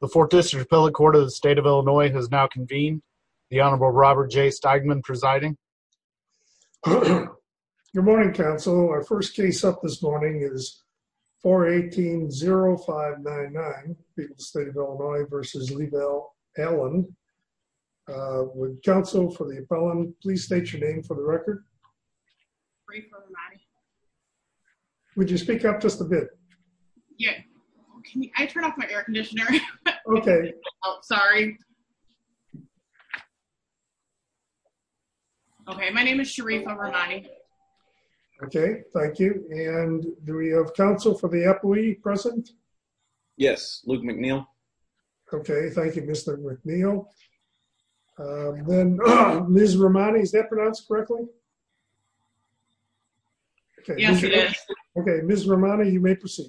The 4th District Appellate Court of the State of Illinois has now convened. The Honorable Robert J. Steigman presiding. Good morning, counsel. Our first case up this morning is 418-0599, People's State of Illinois v. Lee Val Allen. Would counsel for the appellant please state your name for the record? Sharifa Rahmani. Would you speak up just a bit? Yeah. I turned off my air conditioner. Okay. Oh, sorry. Okay, my name is Sharifa Rahmani. Okay, thank you. And do we have counsel for the appellee present? Yes, Luke McNeil. Okay, thank you, Mr. McNeil. Then, Ms. Rahmani, is that pronounced correctly? Yes, it is. Okay, Ms. Rahmani, you may proceed.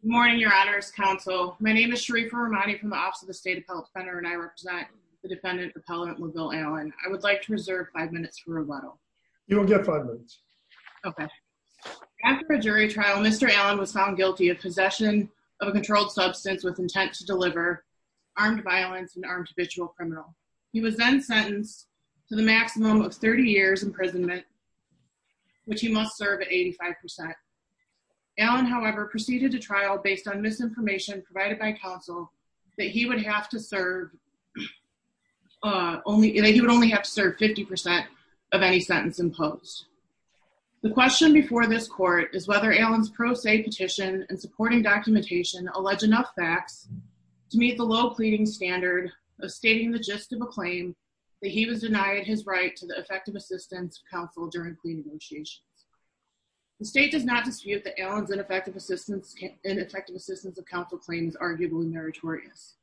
Good morning, Your Honor's counsel. My name is Sharifa Rahmani from the Office of the State Appellate Defender and I represent the defendant, Appellant McGill Allen. I would like to reserve five minutes for rebuttal. You will get five minutes. Okay. After a jury trial, Mr. Allen was found guilty of possession of a controlled substance with intent to deliver, armed violence, and armed habitual criminal. He was then sentenced to the maximum of 30 years imprisonment, which he must serve at 85%. Allen, however, proceeded to trial based on misinformation provided by counsel that he would have to serve only 50% of any sentence imposed. The question before this court is whether Allen's pro se petition and supporting documentation allege enough facts to meet the low pleading standard of stating the gist of a claim that he was denied his right to the effective assistance of counsel during plea negotiations. The state does not dispute that Allen's ineffective assistance of counsel claim is arguably meritorious.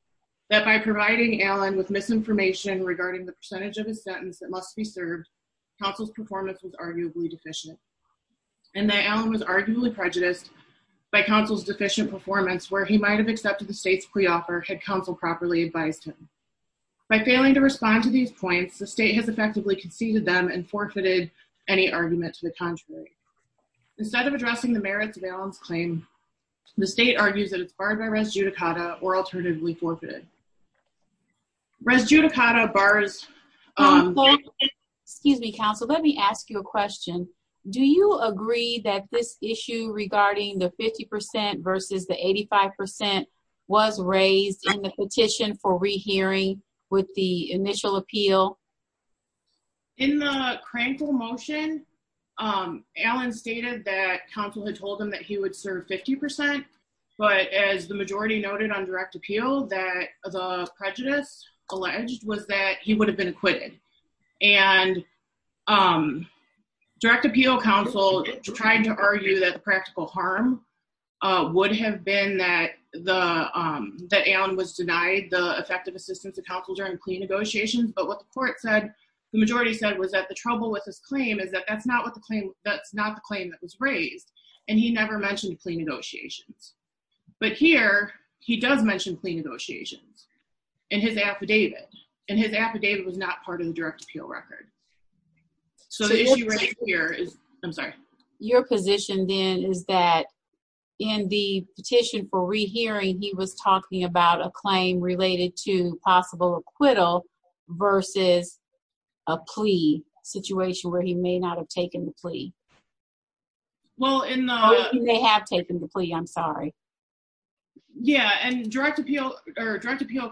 That by providing Allen with misinformation regarding the percentage of his sentence that must be served, counsel's performance was arguably deficient. And that Allen was arguably prejudiced by counsel's performance where he might have accepted the state's pre-offer had counsel properly advised him. By failing to respond to these points, the state has effectively conceded them and forfeited any argument to the contrary. Instead of addressing the merits of Allen's claim, the state argues that it's barred by res judicata or alternatively forfeited. Res judicata bars... Excuse me, counsel. Let me ask you a question. Do you agree that this issue regarding the 50% versus the 85% was raised in the petition for rehearing with the initial appeal? In the crankle motion, Allen stated that counsel had told him that he would serve 50%. But as the majority noted on direct appeal that the prejudice alleged was that he would have been acquitted. And direct appeal counsel tried to argue that the practical harm would have been that Allen was denied the effective assistance of counsel during clean negotiations. But what the majority said was that the trouble with this claim is that that's not the claim that was raised. And he never mentioned clean negotiations. But here, he does mention clean negotiations in his affidavit. And his affidavit was not part of the direct appeal record. So the issue right here is... I'm sorry. Your position then is that in the petition for rehearing, he was talking about a claim related to possible acquittal versus a plea situation where he may not have taken the plea. Well, in the... Or he may have taken the plea. I'm sorry. Yeah. And direct appeal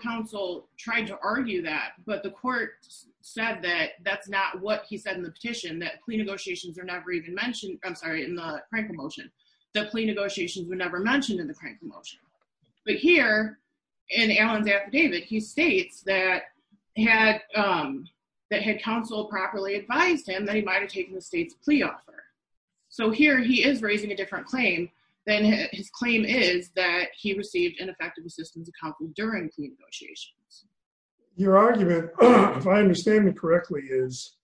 counsel tried to argue that. But the court said that that's not what he said in the petition that clean negotiations are never even mentioned. I'm sorry, in the crankle motion. The plea negotiations were never mentioned in the crankle motion. But here, in Allen's affidavit, he states that had counsel properly advised him that he might have taken the state's claim is that he received ineffective assistance during clean negotiations. Your argument, if I understand it correctly, is,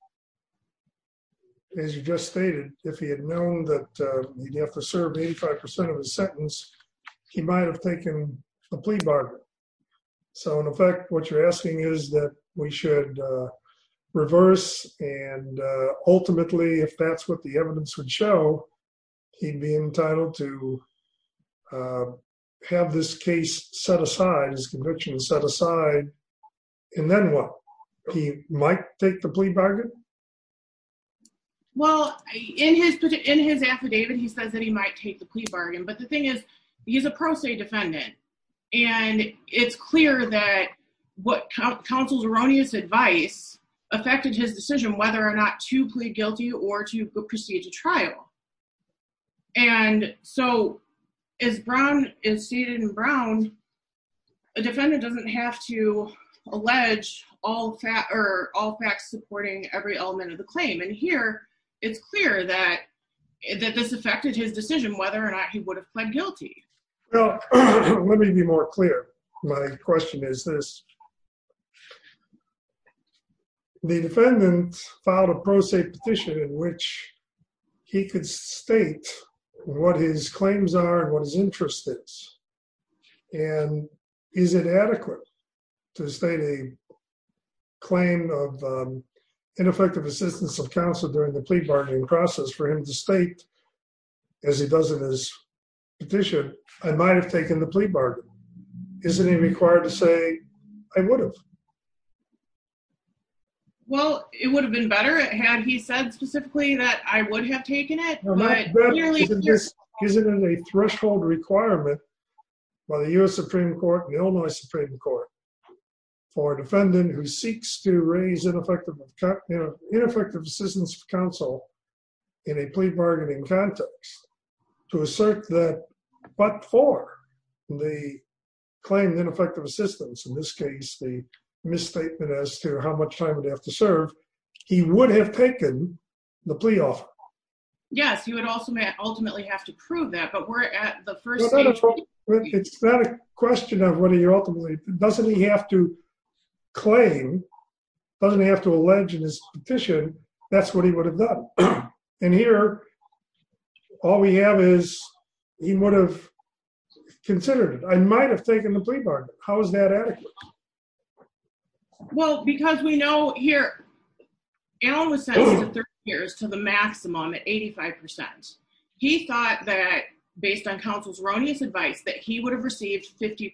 as you just stated, if he had known that he'd have to serve 85% of his sentence, he might have taken the plea bargain. So in effect, what you're asking is that we should reverse and ultimately, if that's what the evidence would show, he'd be entitled to have this case set aside, his conviction set aside. And then what? He might take the plea bargain? Well, in his affidavit, he says that he might take the plea bargain. But the thing is, he's a pro se defendant. And it's clear that what counsel's erroneous advice affected his decision whether or not to plead guilty or to proceed to trial. And so, as Brown is stated in Brown, a defendant doesn't have to allege all facts supporting every element of the claim. And here, it's clear that this affected his decision whether or not he would have pled guilty. Well, let me be more clear. My question is this. The defendant filed a pro se petition in which he could state what his claims are and what his interest is. And is it adequate to state a claim of ineffective assistance of counsel during the plea bargaining process for him to state, as he petitioned, I might have taken the plea bargain? Isn't he required to say, I would have? Well, it would have been better had he said specifically that I would have taken it. Isn't it a threshold requirement by the US Supreme Court, the Illinois Supreme Court, for a defendant who seeks to raise ineffective assistance of counsel in a plea bargaining context, to assert that, but for the claim of ineffective assistance, in this case, the misstatement as to how much time would have to serve, he would have taken the plea offer? Yes, you would also ultimately have to prove that, but we're at the first stage. It's not a question of whether you're ultimately, doesn't he have to claim, doesn't he have to he would have considered it, I might have taken the plea bargain. How is that adequate? Well, because we know here, Alan was sentenced to 30 years to the maximum at 85%. He thought that based on counsel's erroneous advice that he would have received 50%.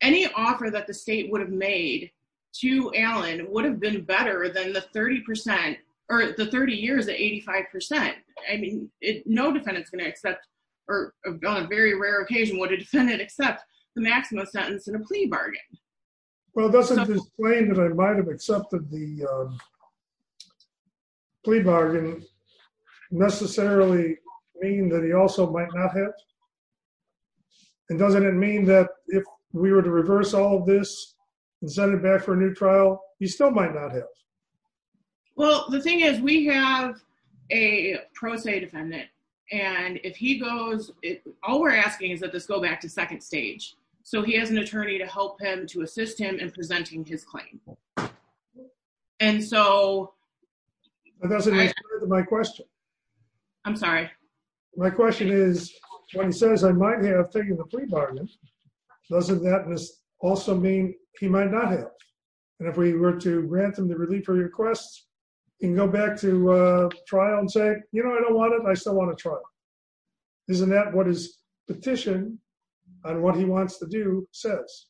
Any offer that the state would have made to Alan would have been better than the 30% or the 30 years at 85%. I mean, no defendant's or on a very rare occasion, would a defendant accept the maximum sentence in a plea bargain? Well, doesn't this claim that I might have accepted the plea bargain necessarily mean that he also might not have? And doesn't it mean that if we were to reverse all of this, and send it back for a new trial, he still might not have? Well, the thing is, we have a pro se defendant. And if he goes, all we're asking is that this go back to second stage. So he has an attorney to help him to assist him in presenting his claim. And so That doesn't answer my question. I'm sorry. My question is, when he says I might have taken the plea bargain, doesn't that also mean he might not And if we were to grant them the relief requests, and go back to trial and say, you know, I don't want it, I still want to try. Isn't that what his petition on what he wants to do says?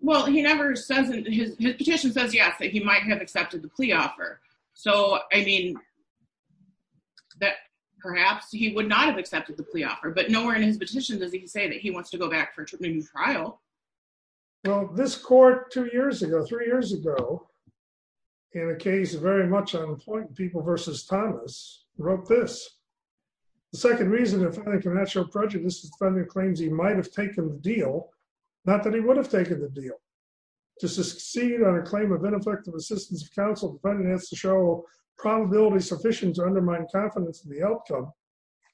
Well, he never says his petition says yes, that he might have accepted the plea offer. So I mean, that perhaps he would not have accepted the plea offer. But nowhere in his petition does he say that he wants to go back for a new trial. Well, this court two years ago, three years ago, in a case of very much unemployed people versus Thomas wrote this. The second reason the defendant can not show prejudice is the defendant claims he might have taken the deal, not that he would have taken the deal. To succeed on a claim of ineffective assistance of counsel, the defendant has to show probability sufficient to undermine confidence in the outcome.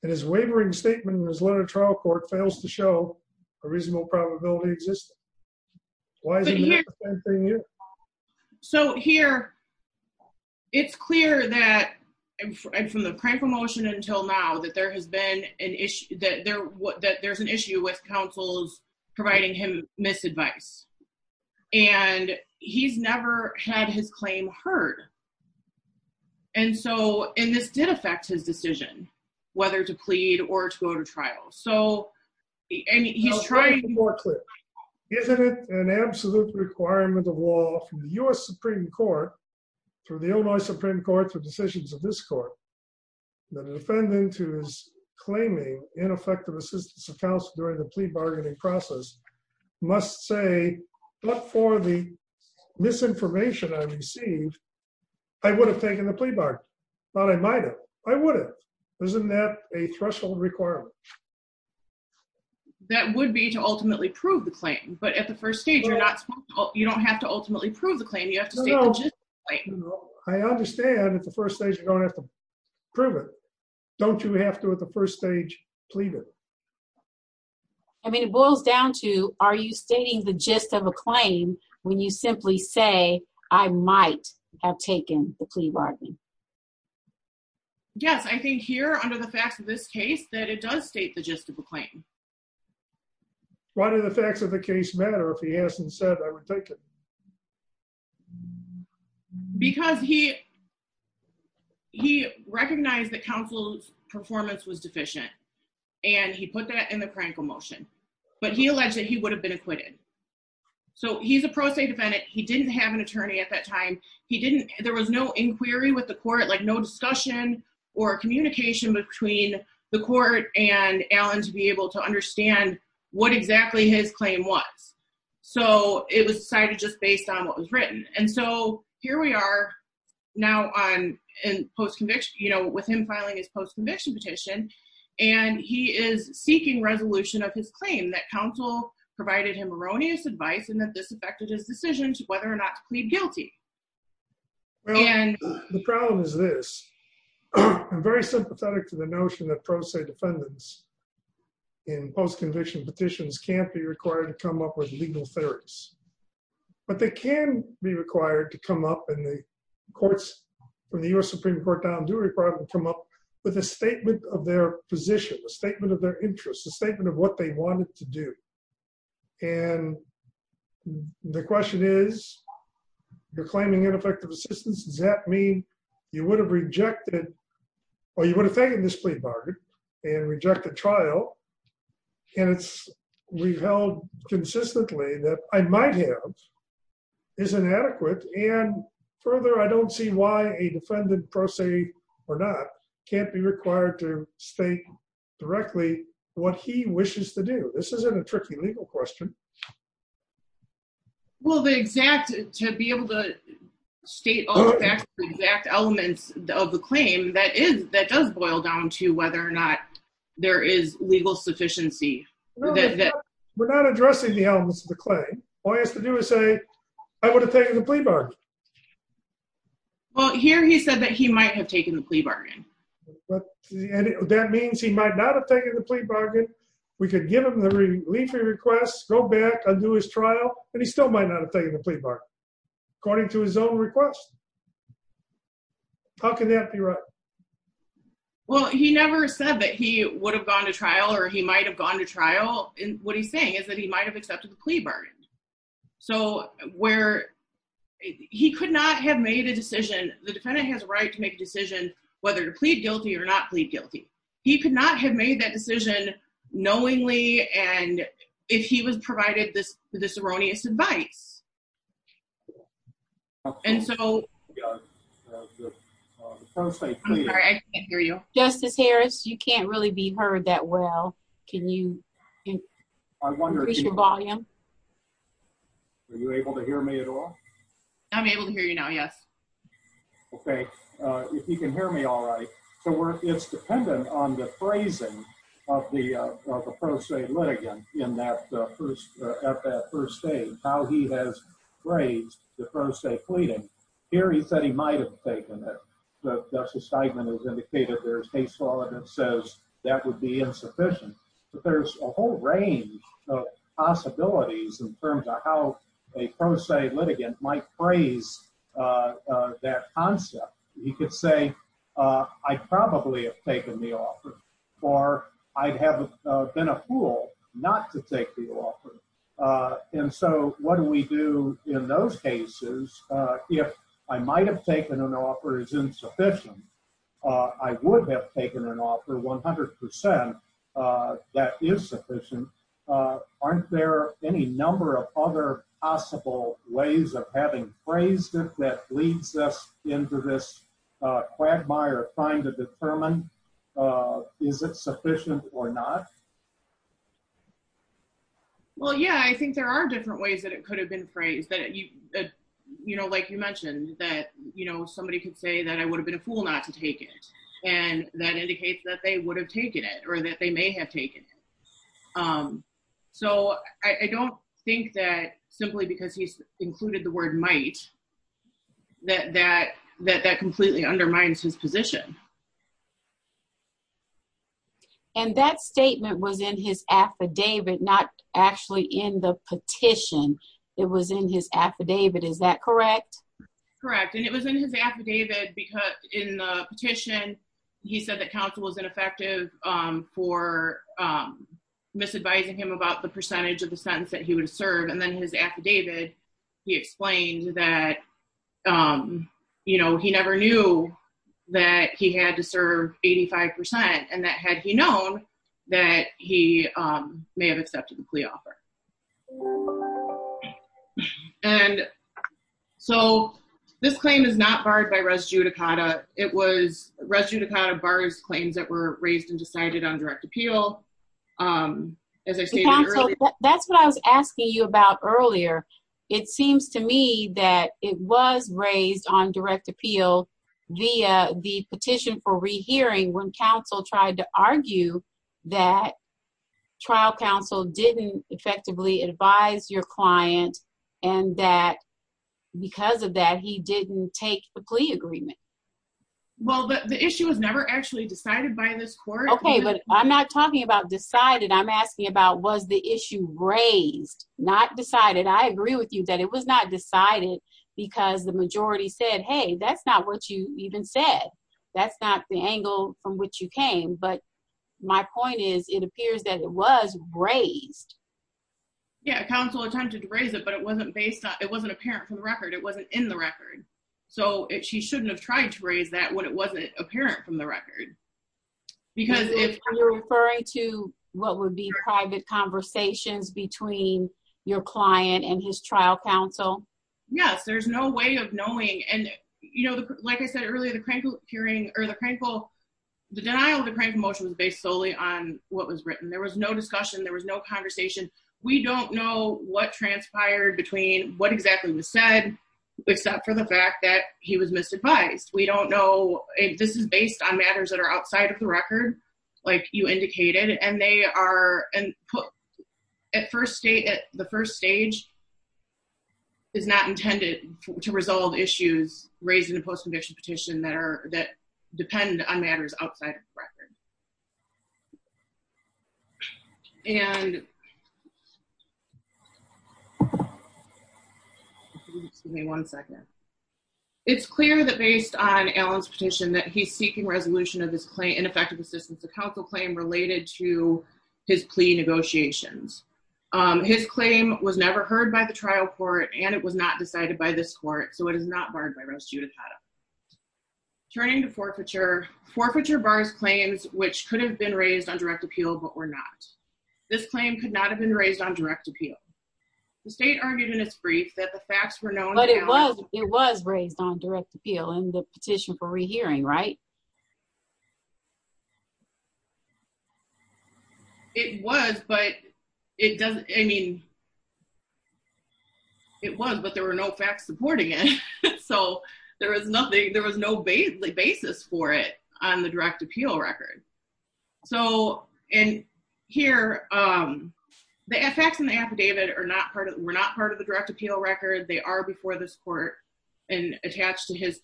And his wavering statement in his letter to trial court fails to show a reasonable probability existing. Why? So here, it's clear that from the prank promotion until now that there has been an issue that there was that there's an issue with counsel's providing him misadvice. And he's never had his claim heard. And so in this did affect his decision, whether to plead or to go to trial. So he's trying to work with, isn't it an absolute requirement of law from the US Supreme Court, for the Illinois Supreme Court for decisions of this court, the defendant who is claiming ineffective assistance of counsel during the plea bargaining process, must say, but for the misinformation I received, I would have taken the plea bargain. But I might have, I would have. Isn't that a threshold requirement? That would be to ultimately prove the claim. But at the first stage, you're not, you don't have to ultimately prove the claim, you have to state the gist of the claim. I understand at the first stage, you don't have to prove it. Don't you have to at the first stage plead it? I mean, it boils down to, are you stating the gist of a claim, when you simply say, I might have taken the plea bargain? Yes, I think here under the facts of this case that it does state the gist of a claim. Why do the facts of the case matter if he hasn't said I would take it? Because he, he recognized that counsel's performance was deficient. And he put that in the crankle motion. But he alleged that he would have been acquitted. So he's a pro se defendant, he didn't have an attorney at that time. He didn't, there was no inquiry with the court, like no discussion or communication between the court and Allen to be able to understand what exactly his on what was written. And so here we are, now on in post conviction, you know, with him filing his post conviction petition, and he is seeking resolution of his claim that counsel provided him erroneous advice and that this affected his decision to whether or not to plead guilty. And the problem is this, I'm very sympathetic to the notion that pro se defendants in post conviction have to come up with rational theories. But they can be required to come up in the courts when the US Supreme Court down do require them to come up with a statement of their position, a statement of their interests, a statement of what they wanted to do. And the question is, you're claiming ineffective assistance. Does that mean you would have rejected or you would have taken this plea bargain and reject the trial? And it's we've held consistently that I might have is inadequate. And further, I don't see why a defendant pro se or not can't be required to state directly what he wishes to do. This isn't a tricky legal question. Well, the exact to be able to state all the exact elements of the claim that is that does boil down to whether or not there is legal sufficiency. We're not addressing the elements of the claim. All he has to do is say, I would have taken the plea bargain. Well, here, he said that he might have taken the plea bargain. That means he might not have taken the plea bargain, we could give him the relief requests, go back and do his trial, and he still might not have taken the plea bargain, according to his own request. How can that be right? Well, he never said that he would have gone to trial, or he might have gone to trial. And what he's saying is that he might have accepted the plea bargain. So where he could not have made a decision, the defendant has a right to make a decision, whether to plead guilty or not plead guilty. He could not have made that decision, knowingly. And if he was provided this, this erroneous advice. And so Yeah. First, I can't hear you. Justice Harris, you can't really be heard that well. Can you I wonder if your volume. Are you able to hear me at all? I'm able to hear you now. Yes. Okay. If you can hear me all right. So we're it's dependent on the phrasing of the pro se litigant in that first, at that first stage, how he has raised the pro se pleading. Here he said he might have taken it. But Justice Steigman has indicated there's case law that says that would be insufficient. But there's a whole range of possibilities in terms of how a pro se litigant might phrase that concept, you could say, I probably have taken the offer, or I'd have been a fool not to take the offer. And so what do we do in those cases, if I might have taken an offer is insufficient, I would have taken an offer 100% that is sufficient. Aren't there any number of other possible ways of having phrased it that leads us into this quagmire trying to determine is it sufficient or not? Well, yeah, I think there are different ways that it could have been phrased that you know, like you mentioned that, you know, somebody could say that I would have been a fool not to take it. And that simply because he's included the word might that that that that completely undermines his position. And that statement was in his affidavit, not actually in the petition. It was in his affidavit. Is that correct? Correct. And it was in his affidavit because in the petition, he said that counsel was ineffective for misadvising him about the percentage of the sentence that he would serve. And then his affidavit, he explained that, you know, he never knew that he had to serve 85%. And that had he known that he may have accepted the plea offer. And so this claim is not barred by res judicata. It was res judicata bars claims that were raised and decided on direct appeal. As I said, that's what I was asking you about earlier. It seems to me that it was raised on direct appeal via the petition for rehearing when counsel tried to argue that trial counsel didn't effectively advise your client, and that because of that he didn't take agreement. Well, the issue was never actually decided by this court. Okay, but I'm not talking about decided. I'm asking about was the issue raised, not decided. I agree with you that it was not decided. Because the majority said, hey, that's not what you even said. That's not the angle from which you came. But my point is, it appears that it was raised. Yeah, counsel attempted to raise it, but it wasn't based on it wasn't apparent from the record. It wasn't in the record. So it she shouldn't have tried to raise that when it wasn't apparent from the record. Because if you're referring to what would be private conversations between your client and his trial counsel? Yes, there's no way of knowing. And, you know, like I said earlier, the crank hearing or the painful, the denial of the crank motion was based solely on what was written. There was no discussion. There was no conversation. We don't know what transpired between what exactly was said, except for the fact that he was misadvised. We don't know if this is based on matters that are outside of the record, like you indicated and they are and put at first state at the first stage is not intended to resolve issues raised in a post conviction petition that are that depend on matters outside of the record. And give me one second. It's clear that based on Alan's petition that he's seeking resolution of this claim and effective assistance to counsel claim related to his plea negotiations. His claim was never heard by the trial court and it was not decided by this court. So it is not Judith. Turning to forfeiture forfeiture bars claims, which could have been raised on direct appeal, but we're not, this claim could not have been raised on direct appeal. The state argued in its brief that the facts were known, but it was, it was raised on direct appeal and the petition for rehearing, right? It was, but it doesn't, I mean, it was, but there were no facts supporting it. So there was nothing, there was no base, the basis for it on the direct appeal record. So, and here the effects in the affidavit are not part of, we're not part of the direct appeal record. They are before this court and attached to his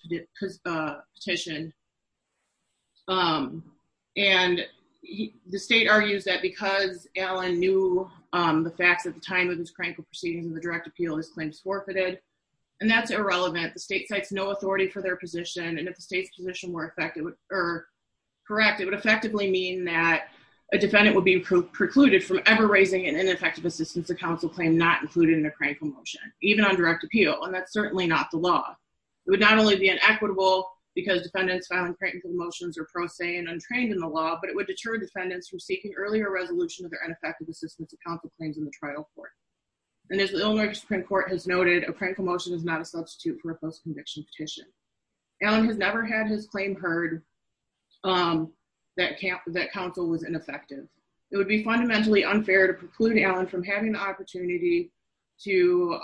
petition. And the state argues that because Alan knew the facts at the time of proceedings in the direct appeal, his claims forfeited. And that's irrelevant. The state cites no authority for their position. And if the state's position were effective or correct, it would effectively mean that a defendant would be precluded from ever raising an ineffective assistance to counsel claim, not included in a crank promotion, even on direct appeal. And that's certainly not the law. It would not only be an equitable because defendants found crank promotions are pro se and untrained in the law, but it would deter defendants from seeking earlier resolution of their ineffective assistance to counsel claims in the trial court. And as the Illinois Supreme Court has noted, a crank promotion is not a substitute for a post conviction petition. Alan has never had his claim heard that counsel was ineffective. It would be fundamentally unfair to preclude Alan from having the opportunity to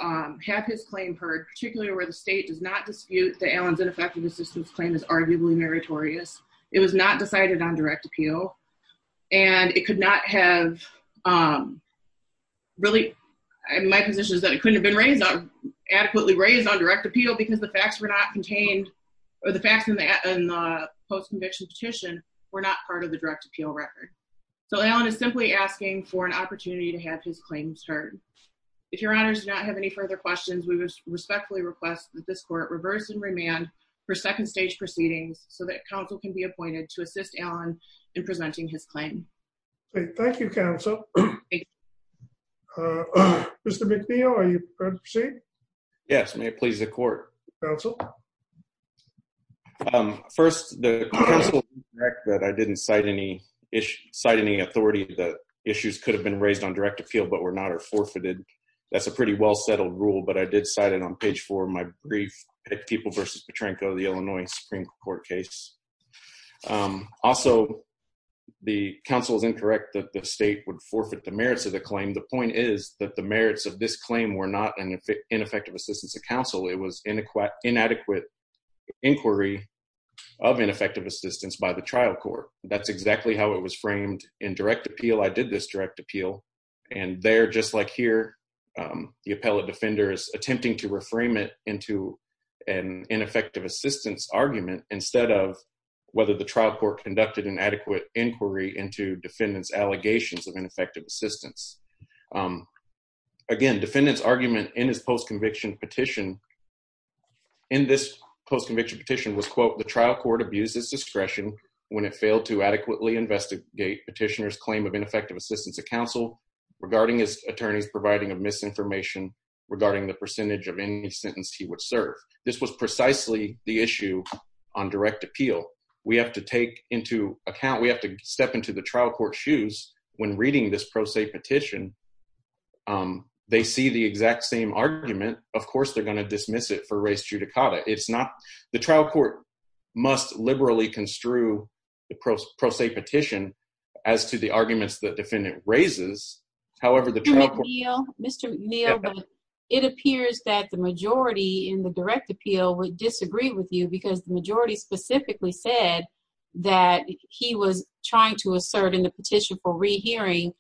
have his claim heard, particularly where the state does not dispute that Alan's ineffective assistance claim is arguably meritorious. It was not decided on direct appeal and it could not have um, really my position is that it couldn't have been raised adequately raised on direct appeal because the facts were not contained or the facts in the post conviction petition were not part of the direct appeal record. So Alan is simply asking for an opportunity to have his claims heard. If your honors do not have any further questions, we respectfully request that this court reverse and remand for second stage proceedings so that counsel can be appointed to assist Alan in presenting his claim. Great. Thank you, counsel. Mr. McNeil, are you ready to proceed? Yes. May it please the court. Council. Um, first the council that I didn't cite any issue, cite any authority that issues could have been raised on direct appeal, but we're not are forfeited. That's a pretty well settled rule, but I did cite it on page four of my brief at people versus Petrenko, the Illinois Supreme Court case. Um, also the council is incorrect that the state would forfeit the merits of the claim. The point is that the merits of this claim were not an ineffective assistance of council. It was inadequate inquiry of ineffective assistance by the trial court. That's exactly how it was framed in direct appeal. I did this direct appeal and they're just like here. Um, the appellate offender is attempting to reframe it into an ineffective assistance argument instead of whether the trial court conducted an adequate inquiry into defendants allegations of ineffective assistance. Um, again, defendants argument in his post conviction petition in this post conviction petition was quote, the trial court abuses discretion when it failed to adequately investigate petitioners claim of ineffective assistance of council regarding his attorneys providing misinformation regarding the percentage of any sentence he would serve. This was precisely the issue on direct appeal. We have to take into account, we have to step into the trial court shoes when reading this pro se petition. Um, they see the exact same argument. Of course, they're going to dismiss it for race judicata. It's not the trial court must liberally construe the pros pro se petition as to the arguments that defendant raises. However, the trial Mr. Neal, it appears that the majority in the direct appeal would disagree with you because the majority specifically said that he was trying to assert in the petition for rehearing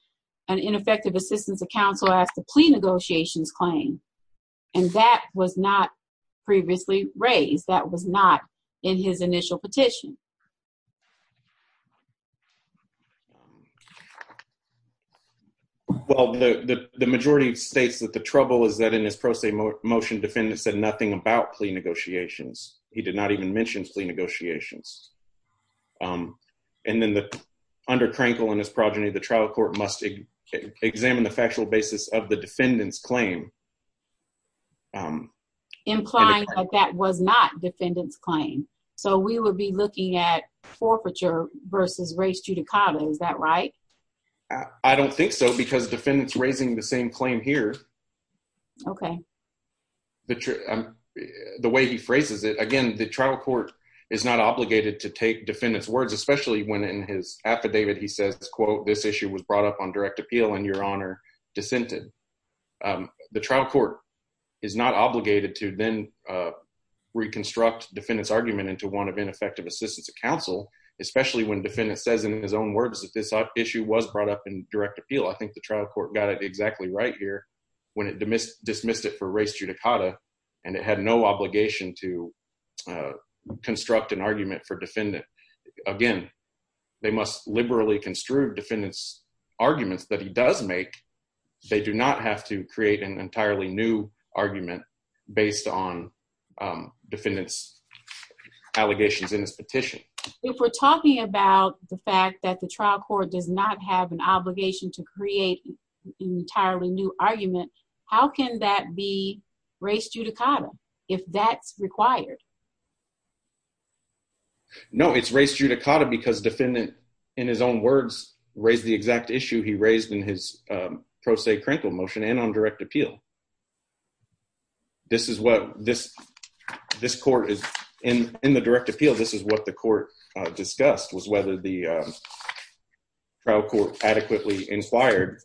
an ineffective assistance of counsel as the plea negotiations claim. And that was not previously raised that was not in his initial petition. Well, the majority of states that the trouble is that in his pro se motion, defendants said nothing about plea negotiations. He did not even mention plea negotiations. And then the undercrankle in his progeny, the trial court must examine the factual basis of the defendants claim. Implying that that was not defendants claim. So we would be looking to the trial court forfeiture versus race judicata. Is that right? I don't think so. Because defendants raising the same claim here. Okay. The way he phrases it again, the trial court is not obligated to take defendants words, especially when in his affidavit, he says, quote, this issue was brought up on direct appeal and your honor, dissented. The trial court is not especially when defendants says in his own words that this issue was brought up in direct appeal. I think the trial court got it exactly right here when it dismissed it for race judicata, and it had no obligation to construct an argument for defendant. Again, they must liberally construe defendants arguments that he does make. They do not have to create an entirely new argument based on defendants allegations in his petition. If we're talking about the fact that the trial court does not have an obligation to create an entirely new argument, how can that be race judicata if that's required? No, it's race judicata because defendant in his own words, raised the exact issue he raised in his pro se crinkle motion and on direct appeal. In the direct appeal, this is what the court discussed was whether the trial court adequately inquired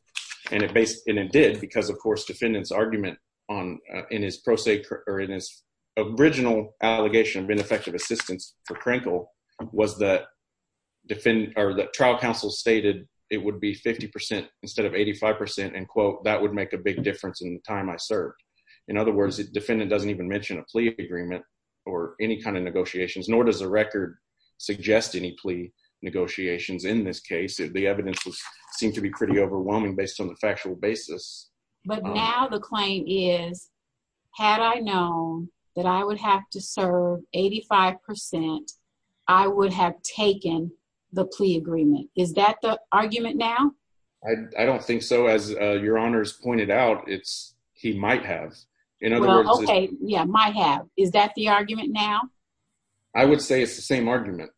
and it did because, of course, defendants argument in his original allegation of ineffective assistance for crinkle was that trial counsel stated it would be 50% instead of 85% and quote, that would make a big difference in the time I served. In other words, defendant doesn't even mention a plea agreement or any kind of negotiations nor does the record suggest any plea negotiations in this case. The evidence seemed to be pretty overwhelming based on the factual basis. But now the claim is, had I known that I would have to serve 85%, I would have taken the plea agreement. Is that the argument now? I don't think so. As your honors pointed out, it's he might have. Yeah, might have. Is that the argument now? I would say it's the same argument.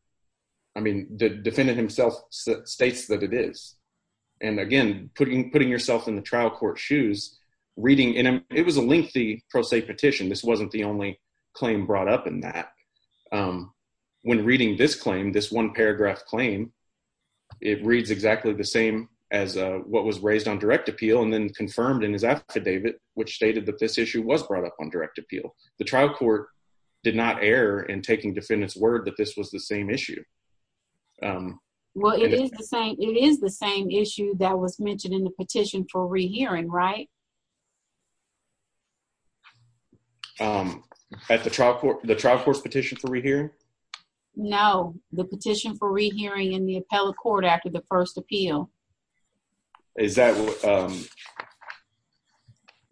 I mean, the defendant himself states that it is. And again, putting yourself in the trial court shoes, reading it was a lengthy pro se petition. This wasn't the only claim brought up in that. When reading this claim, this one paragraph claim, it reads exactly the same as what was raised on direct appeal and then confirmed in his affidavit, which stated that this issue was brought up on direct appeal. The trial court did not err in taking defendant's word that this was the same issue. Well, it is the same. It is the same issue that was mentioned in the petition for rehearing, right? At the trial court, the trial court's petition for rehearing? No, the petition for rehearing in the appellate court after the first appeal. Is that what?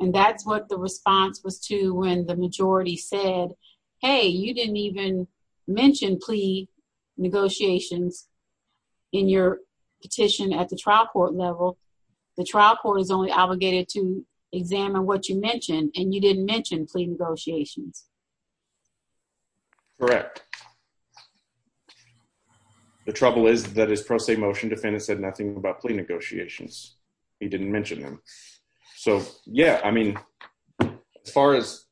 And that's what the response was to when the majority said, hey, you didn't even mention plea negotiations in your petition at the trial court level. The trial court is only obligated to negotiate. Correct. The trouble is that his pro se motion defendant said nothing about plea negotiations. He didn't mention them. So yeah, I mean, as far as,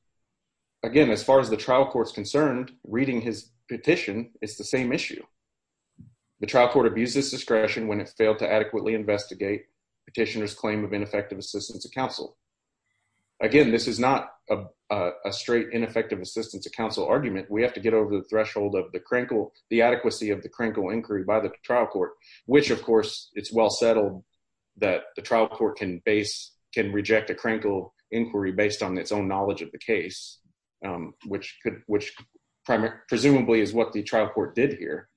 again, as far as the trial court's concerned, reading his petition, it's the same issue. The trial court abuses discretion when it failed to adequately investigate petitioner's claim of ineffective assistance to counsel. Again, this is not a straight ineffective assistance to counsel argument. We have to get over the threshold of the crinkle, the adequacy of the crinkle inquiry by the trial court, which, of course, it's well settled that the trial court can base, can reject a crinkle inquiry based on its own knowledge of the case, which could, which presumably is what the trial court did here.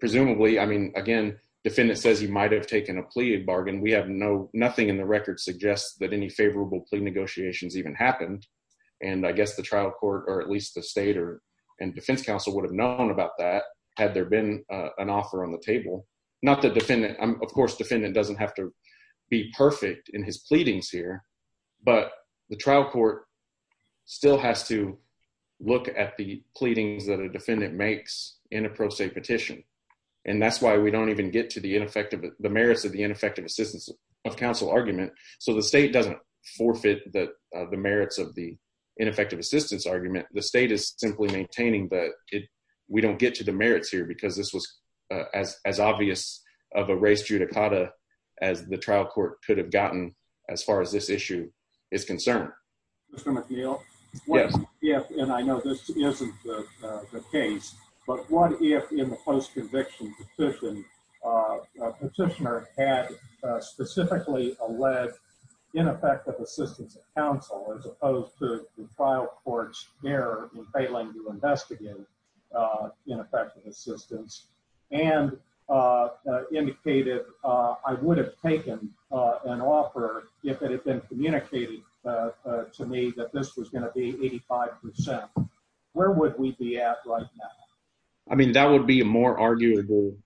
Presumably, I mean, again, defendant says he might have taken a plea bargain. We have no, nothing in the record suggests that any favorable plea negotiations even happened. And I guess the trial court, or at least the state or defense counsel would have known about that had there been an offer on the table, not the defendant. Of course, defendant doesn't have to be perfect in his pleadings here, but the trial court still has to look at the pleadings that a defendant makes in a pro se petition. And that's why we don't even get to the merits of the ineffective assistance of counsel argument. So the state doesn't forfeit the merits of the ineffective assistance argument. The state is simply maintaining that we don't get to the merits here because this was as obvious of a race judicata as the trial court could have gotten as far as this issue is concerned. Mr. McNeil, what if, and I know this isn't the case, but what if in the post-conviction petition, a petitioner had specifically alleged ineffective assistance of counsel as opposed to the trial court's error in failing to investigate ineffective assistance and indicated, I would have taken an offer if it had been communicating to me that this was going to be 85%. Where would we be at right now? I mean, that would be a more arguable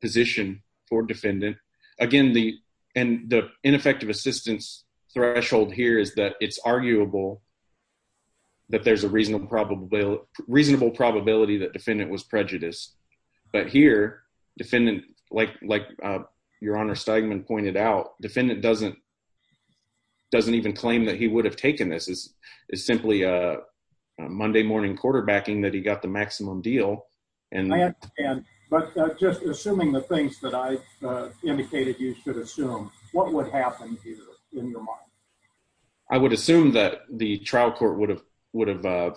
position for defendant. Again, the ineffective assistance threshold here is that it's arguable that there's a reasonable probability that defendant was prejudiced. But here, defendant, like your honor Steigman pointed out, defendant doesn't even claim that he would have taken this. It's simply a Monday morning quarterbacking that he got the maximum deal. I understand, but just assuming the things that I indicated you should assume, what would happen here in your mind? I would assume that the trial court would have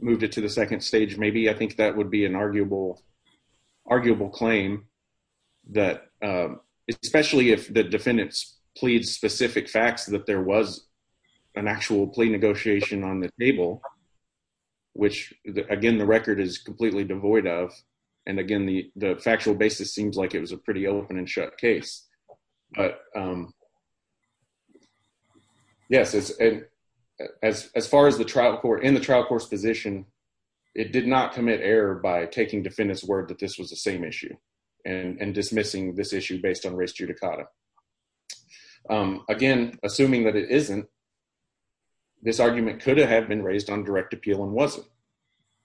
moved it to the second stage. Maybe I think that would be an arguable claim, especially if the defendants plead specific facts that there was an actual plea negotiation on the table, which again, the record is completely devoid of. And again, the factual basis seems like it was a pretty open and shut case. But yes, as far as in the trial court's position, it did not commit error by taking defendant's word that this was the same issue and dismissing this issue based on race judicata. Again, assuming that it isn't, this argument could have been raised on direct appeal and wasn't.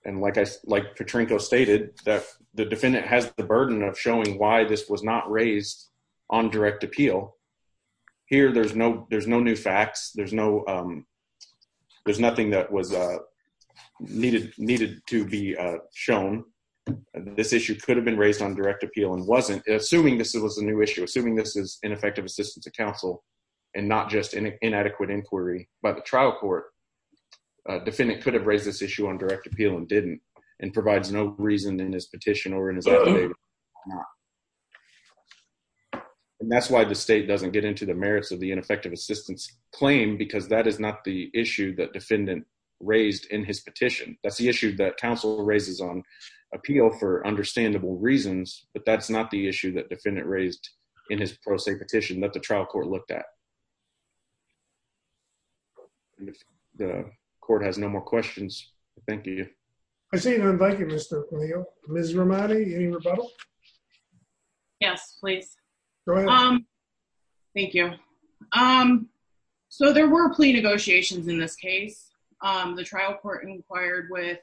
And like Petrenko stated, the defendant has the burden of showing why this was not raised on direct appeal. Here, there's no new facts. There's nothing that was needed to be shown. This issue could have been raised on direct appeal and wasn't. Assuming this was a new issue, assuming this is ineffective assistance to counsel and not just inadequate inquiry by the trial court, defendant could have raised this issue on direct appeal and didn't and provides no reason in his petition or in his opinion. And that's why the state doesn't get into the merits of the ineffective assistance claim because that is not the issue that defendant raised in his petition. That's the issue that counsel raises on appeal for understandable reasons, but that's not the issue that defendant raised in his pro se petition that the trial court looked at. The court has no more questions. Thank you. I see none. Thank you, Mr. Cleo. Ms. Romadi, any rebuttal? Yes, please. Go ahead. Thank you. So there were plea negotiations in this case. The trial court inquired with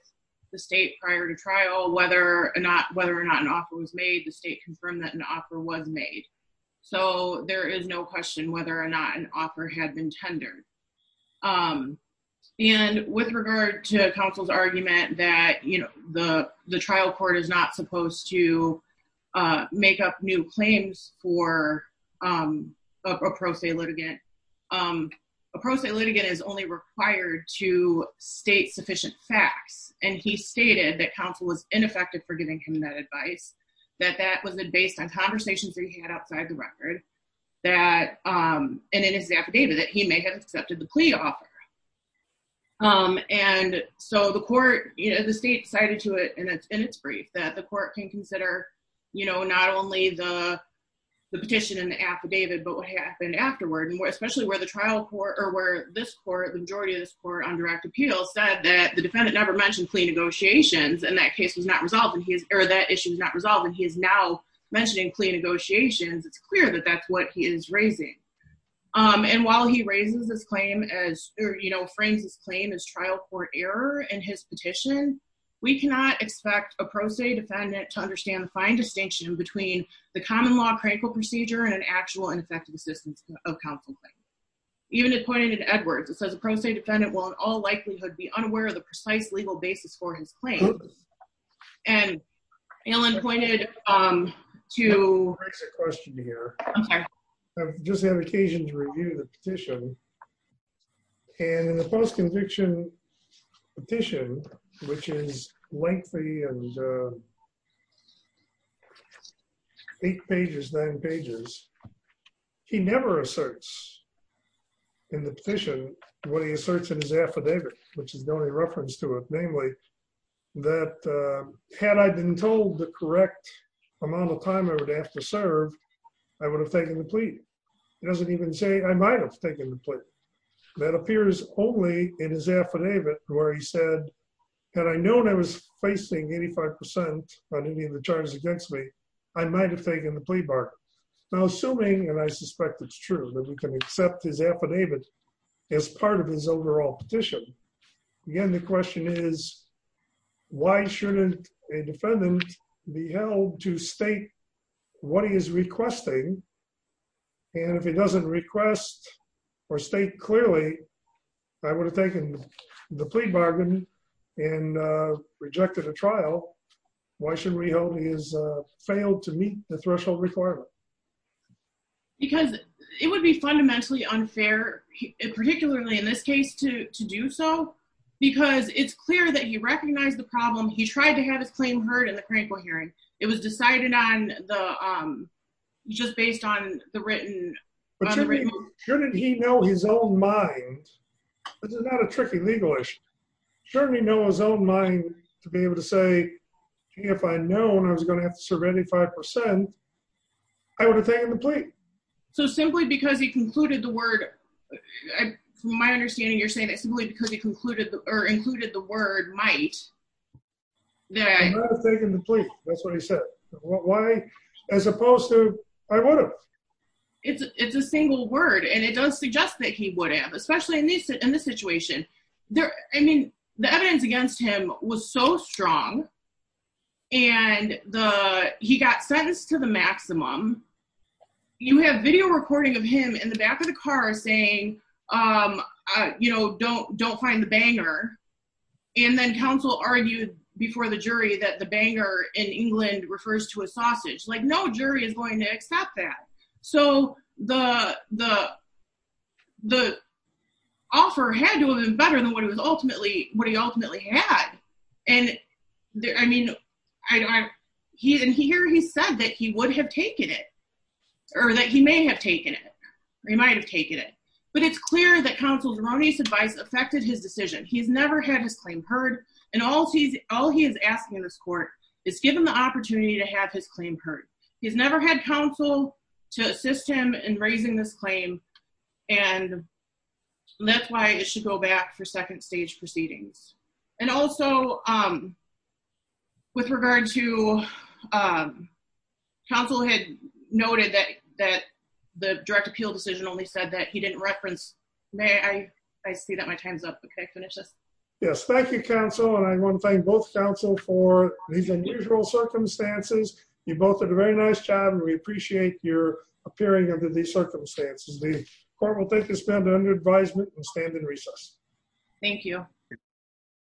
the state prior to trial whether or not an offer was made. The state confirmed that an offer was made. So there is no question whether or not an offer had been tendered. And with regard to counsel's argument that the trial court is not supposed to make up new claims for a pro se litigant, a pro se litigant is only required to state sufficient facts. And he stated that counsel was ineffective for giving him that advice, that that was based on conversations that he had outside the record and in his affidavit that he may have accepted the plea offer. And so the court, you know, the state cited to it in its brief that the court can consider, you know, not only the petition and the affidavit, but what happened afterward, and especially where the trial court or where this court, the majority of this court on direct appeal said that the defendant never mentioned plea negotiations and that case was not resolved and he is, or that issue is not resolved and he is now mentioning plea negotiations. It's clear that that's what he is raising. And while he raises his claim as, you know, frames his claim as trial court error in his petition, we cannot expect a pro se defendant to understand the fine distinction between the common law critical procedure and an actual and effective assistance of counsel. Even it pointed to Edwards. It says a pro se defendant will in all likelihood be I've just had occasion to review the petition. And in the post conviction petition, which is lengthy and eight pages, nine pages, he never asserts in the petition, what he asserts in his affidavit, which is the only reference to it, namely that had I been told the correct amount of time I would have taken the plea. It doesn't even say I might have taken the plea. That appears only in his affidavit where he said, had I known I was facing 85% on any of the charges against me, I might have taken the plea bargain. Now assuming and I suspect it's true that we can accept his affidavit as part of his overall petition. Again, the question is, why shouldn't a defendant be held to state what he is requesting? And if he doesn't request or state clearly, I would have taken the plea bargain and rejected a trial. Why should we hold his failed to meet the threshold requirement? Because it would be fundamentally unfair, particularly in this case to do so, because it's clear that he recognized the problem. He tried to have his claim heard in the crankle hearing. It was decided on the, um, just based on the written. Shouldn't he know his own mind? This is not a tricky legal issue. Certainly know his own mind to be able to say, if I had known I was going to have to serve any 5%, I would have taken the plea. So simply because he concluded the word, my understanding, you're saying that simply because he concluded or included the word might that I have taken the plea. That's what he said. Why, as opposed to, I would have, it's a single word and it does suggest that he would have, especially in this, in this situation there. I mean, the evidence against him was so strong and the, he got sentenced to the maximum. You have video recording of him in the back of the car saying, um, uh, you know, don't, don't find the banger. And then counsel argued before the jury that the banger in England refers to a sausage, like no jury is going to accept that. So the, the, the offer had to have been better than what it was ultimately, what he ultimately had. And I mean, I don't, I, he didn't hear, he said that he would have taken it or that he may have taken it. He might've taken it, but it's clear that counsel's erroneous advice affected his decision. He's never had his claim heard. And all he's, all he is asking in this court is give him the opportunity to have his claim heard. He has never had counsel to assist him in raising this claim. And that's why it should go back for second stage proceedings. And also, um, with regard to, um, counsel had noted that, that the direct appeal decision only said that he didn't reference. May I, I see that my time's up, but can I finish this? Yes. Thank you counsel. And I want to thank both counsel for these unusual circumstances. You both did a very nice job and we appreciate your appearing under these circumstances. The court will take a spend under advisement and stand in recess. Thank you.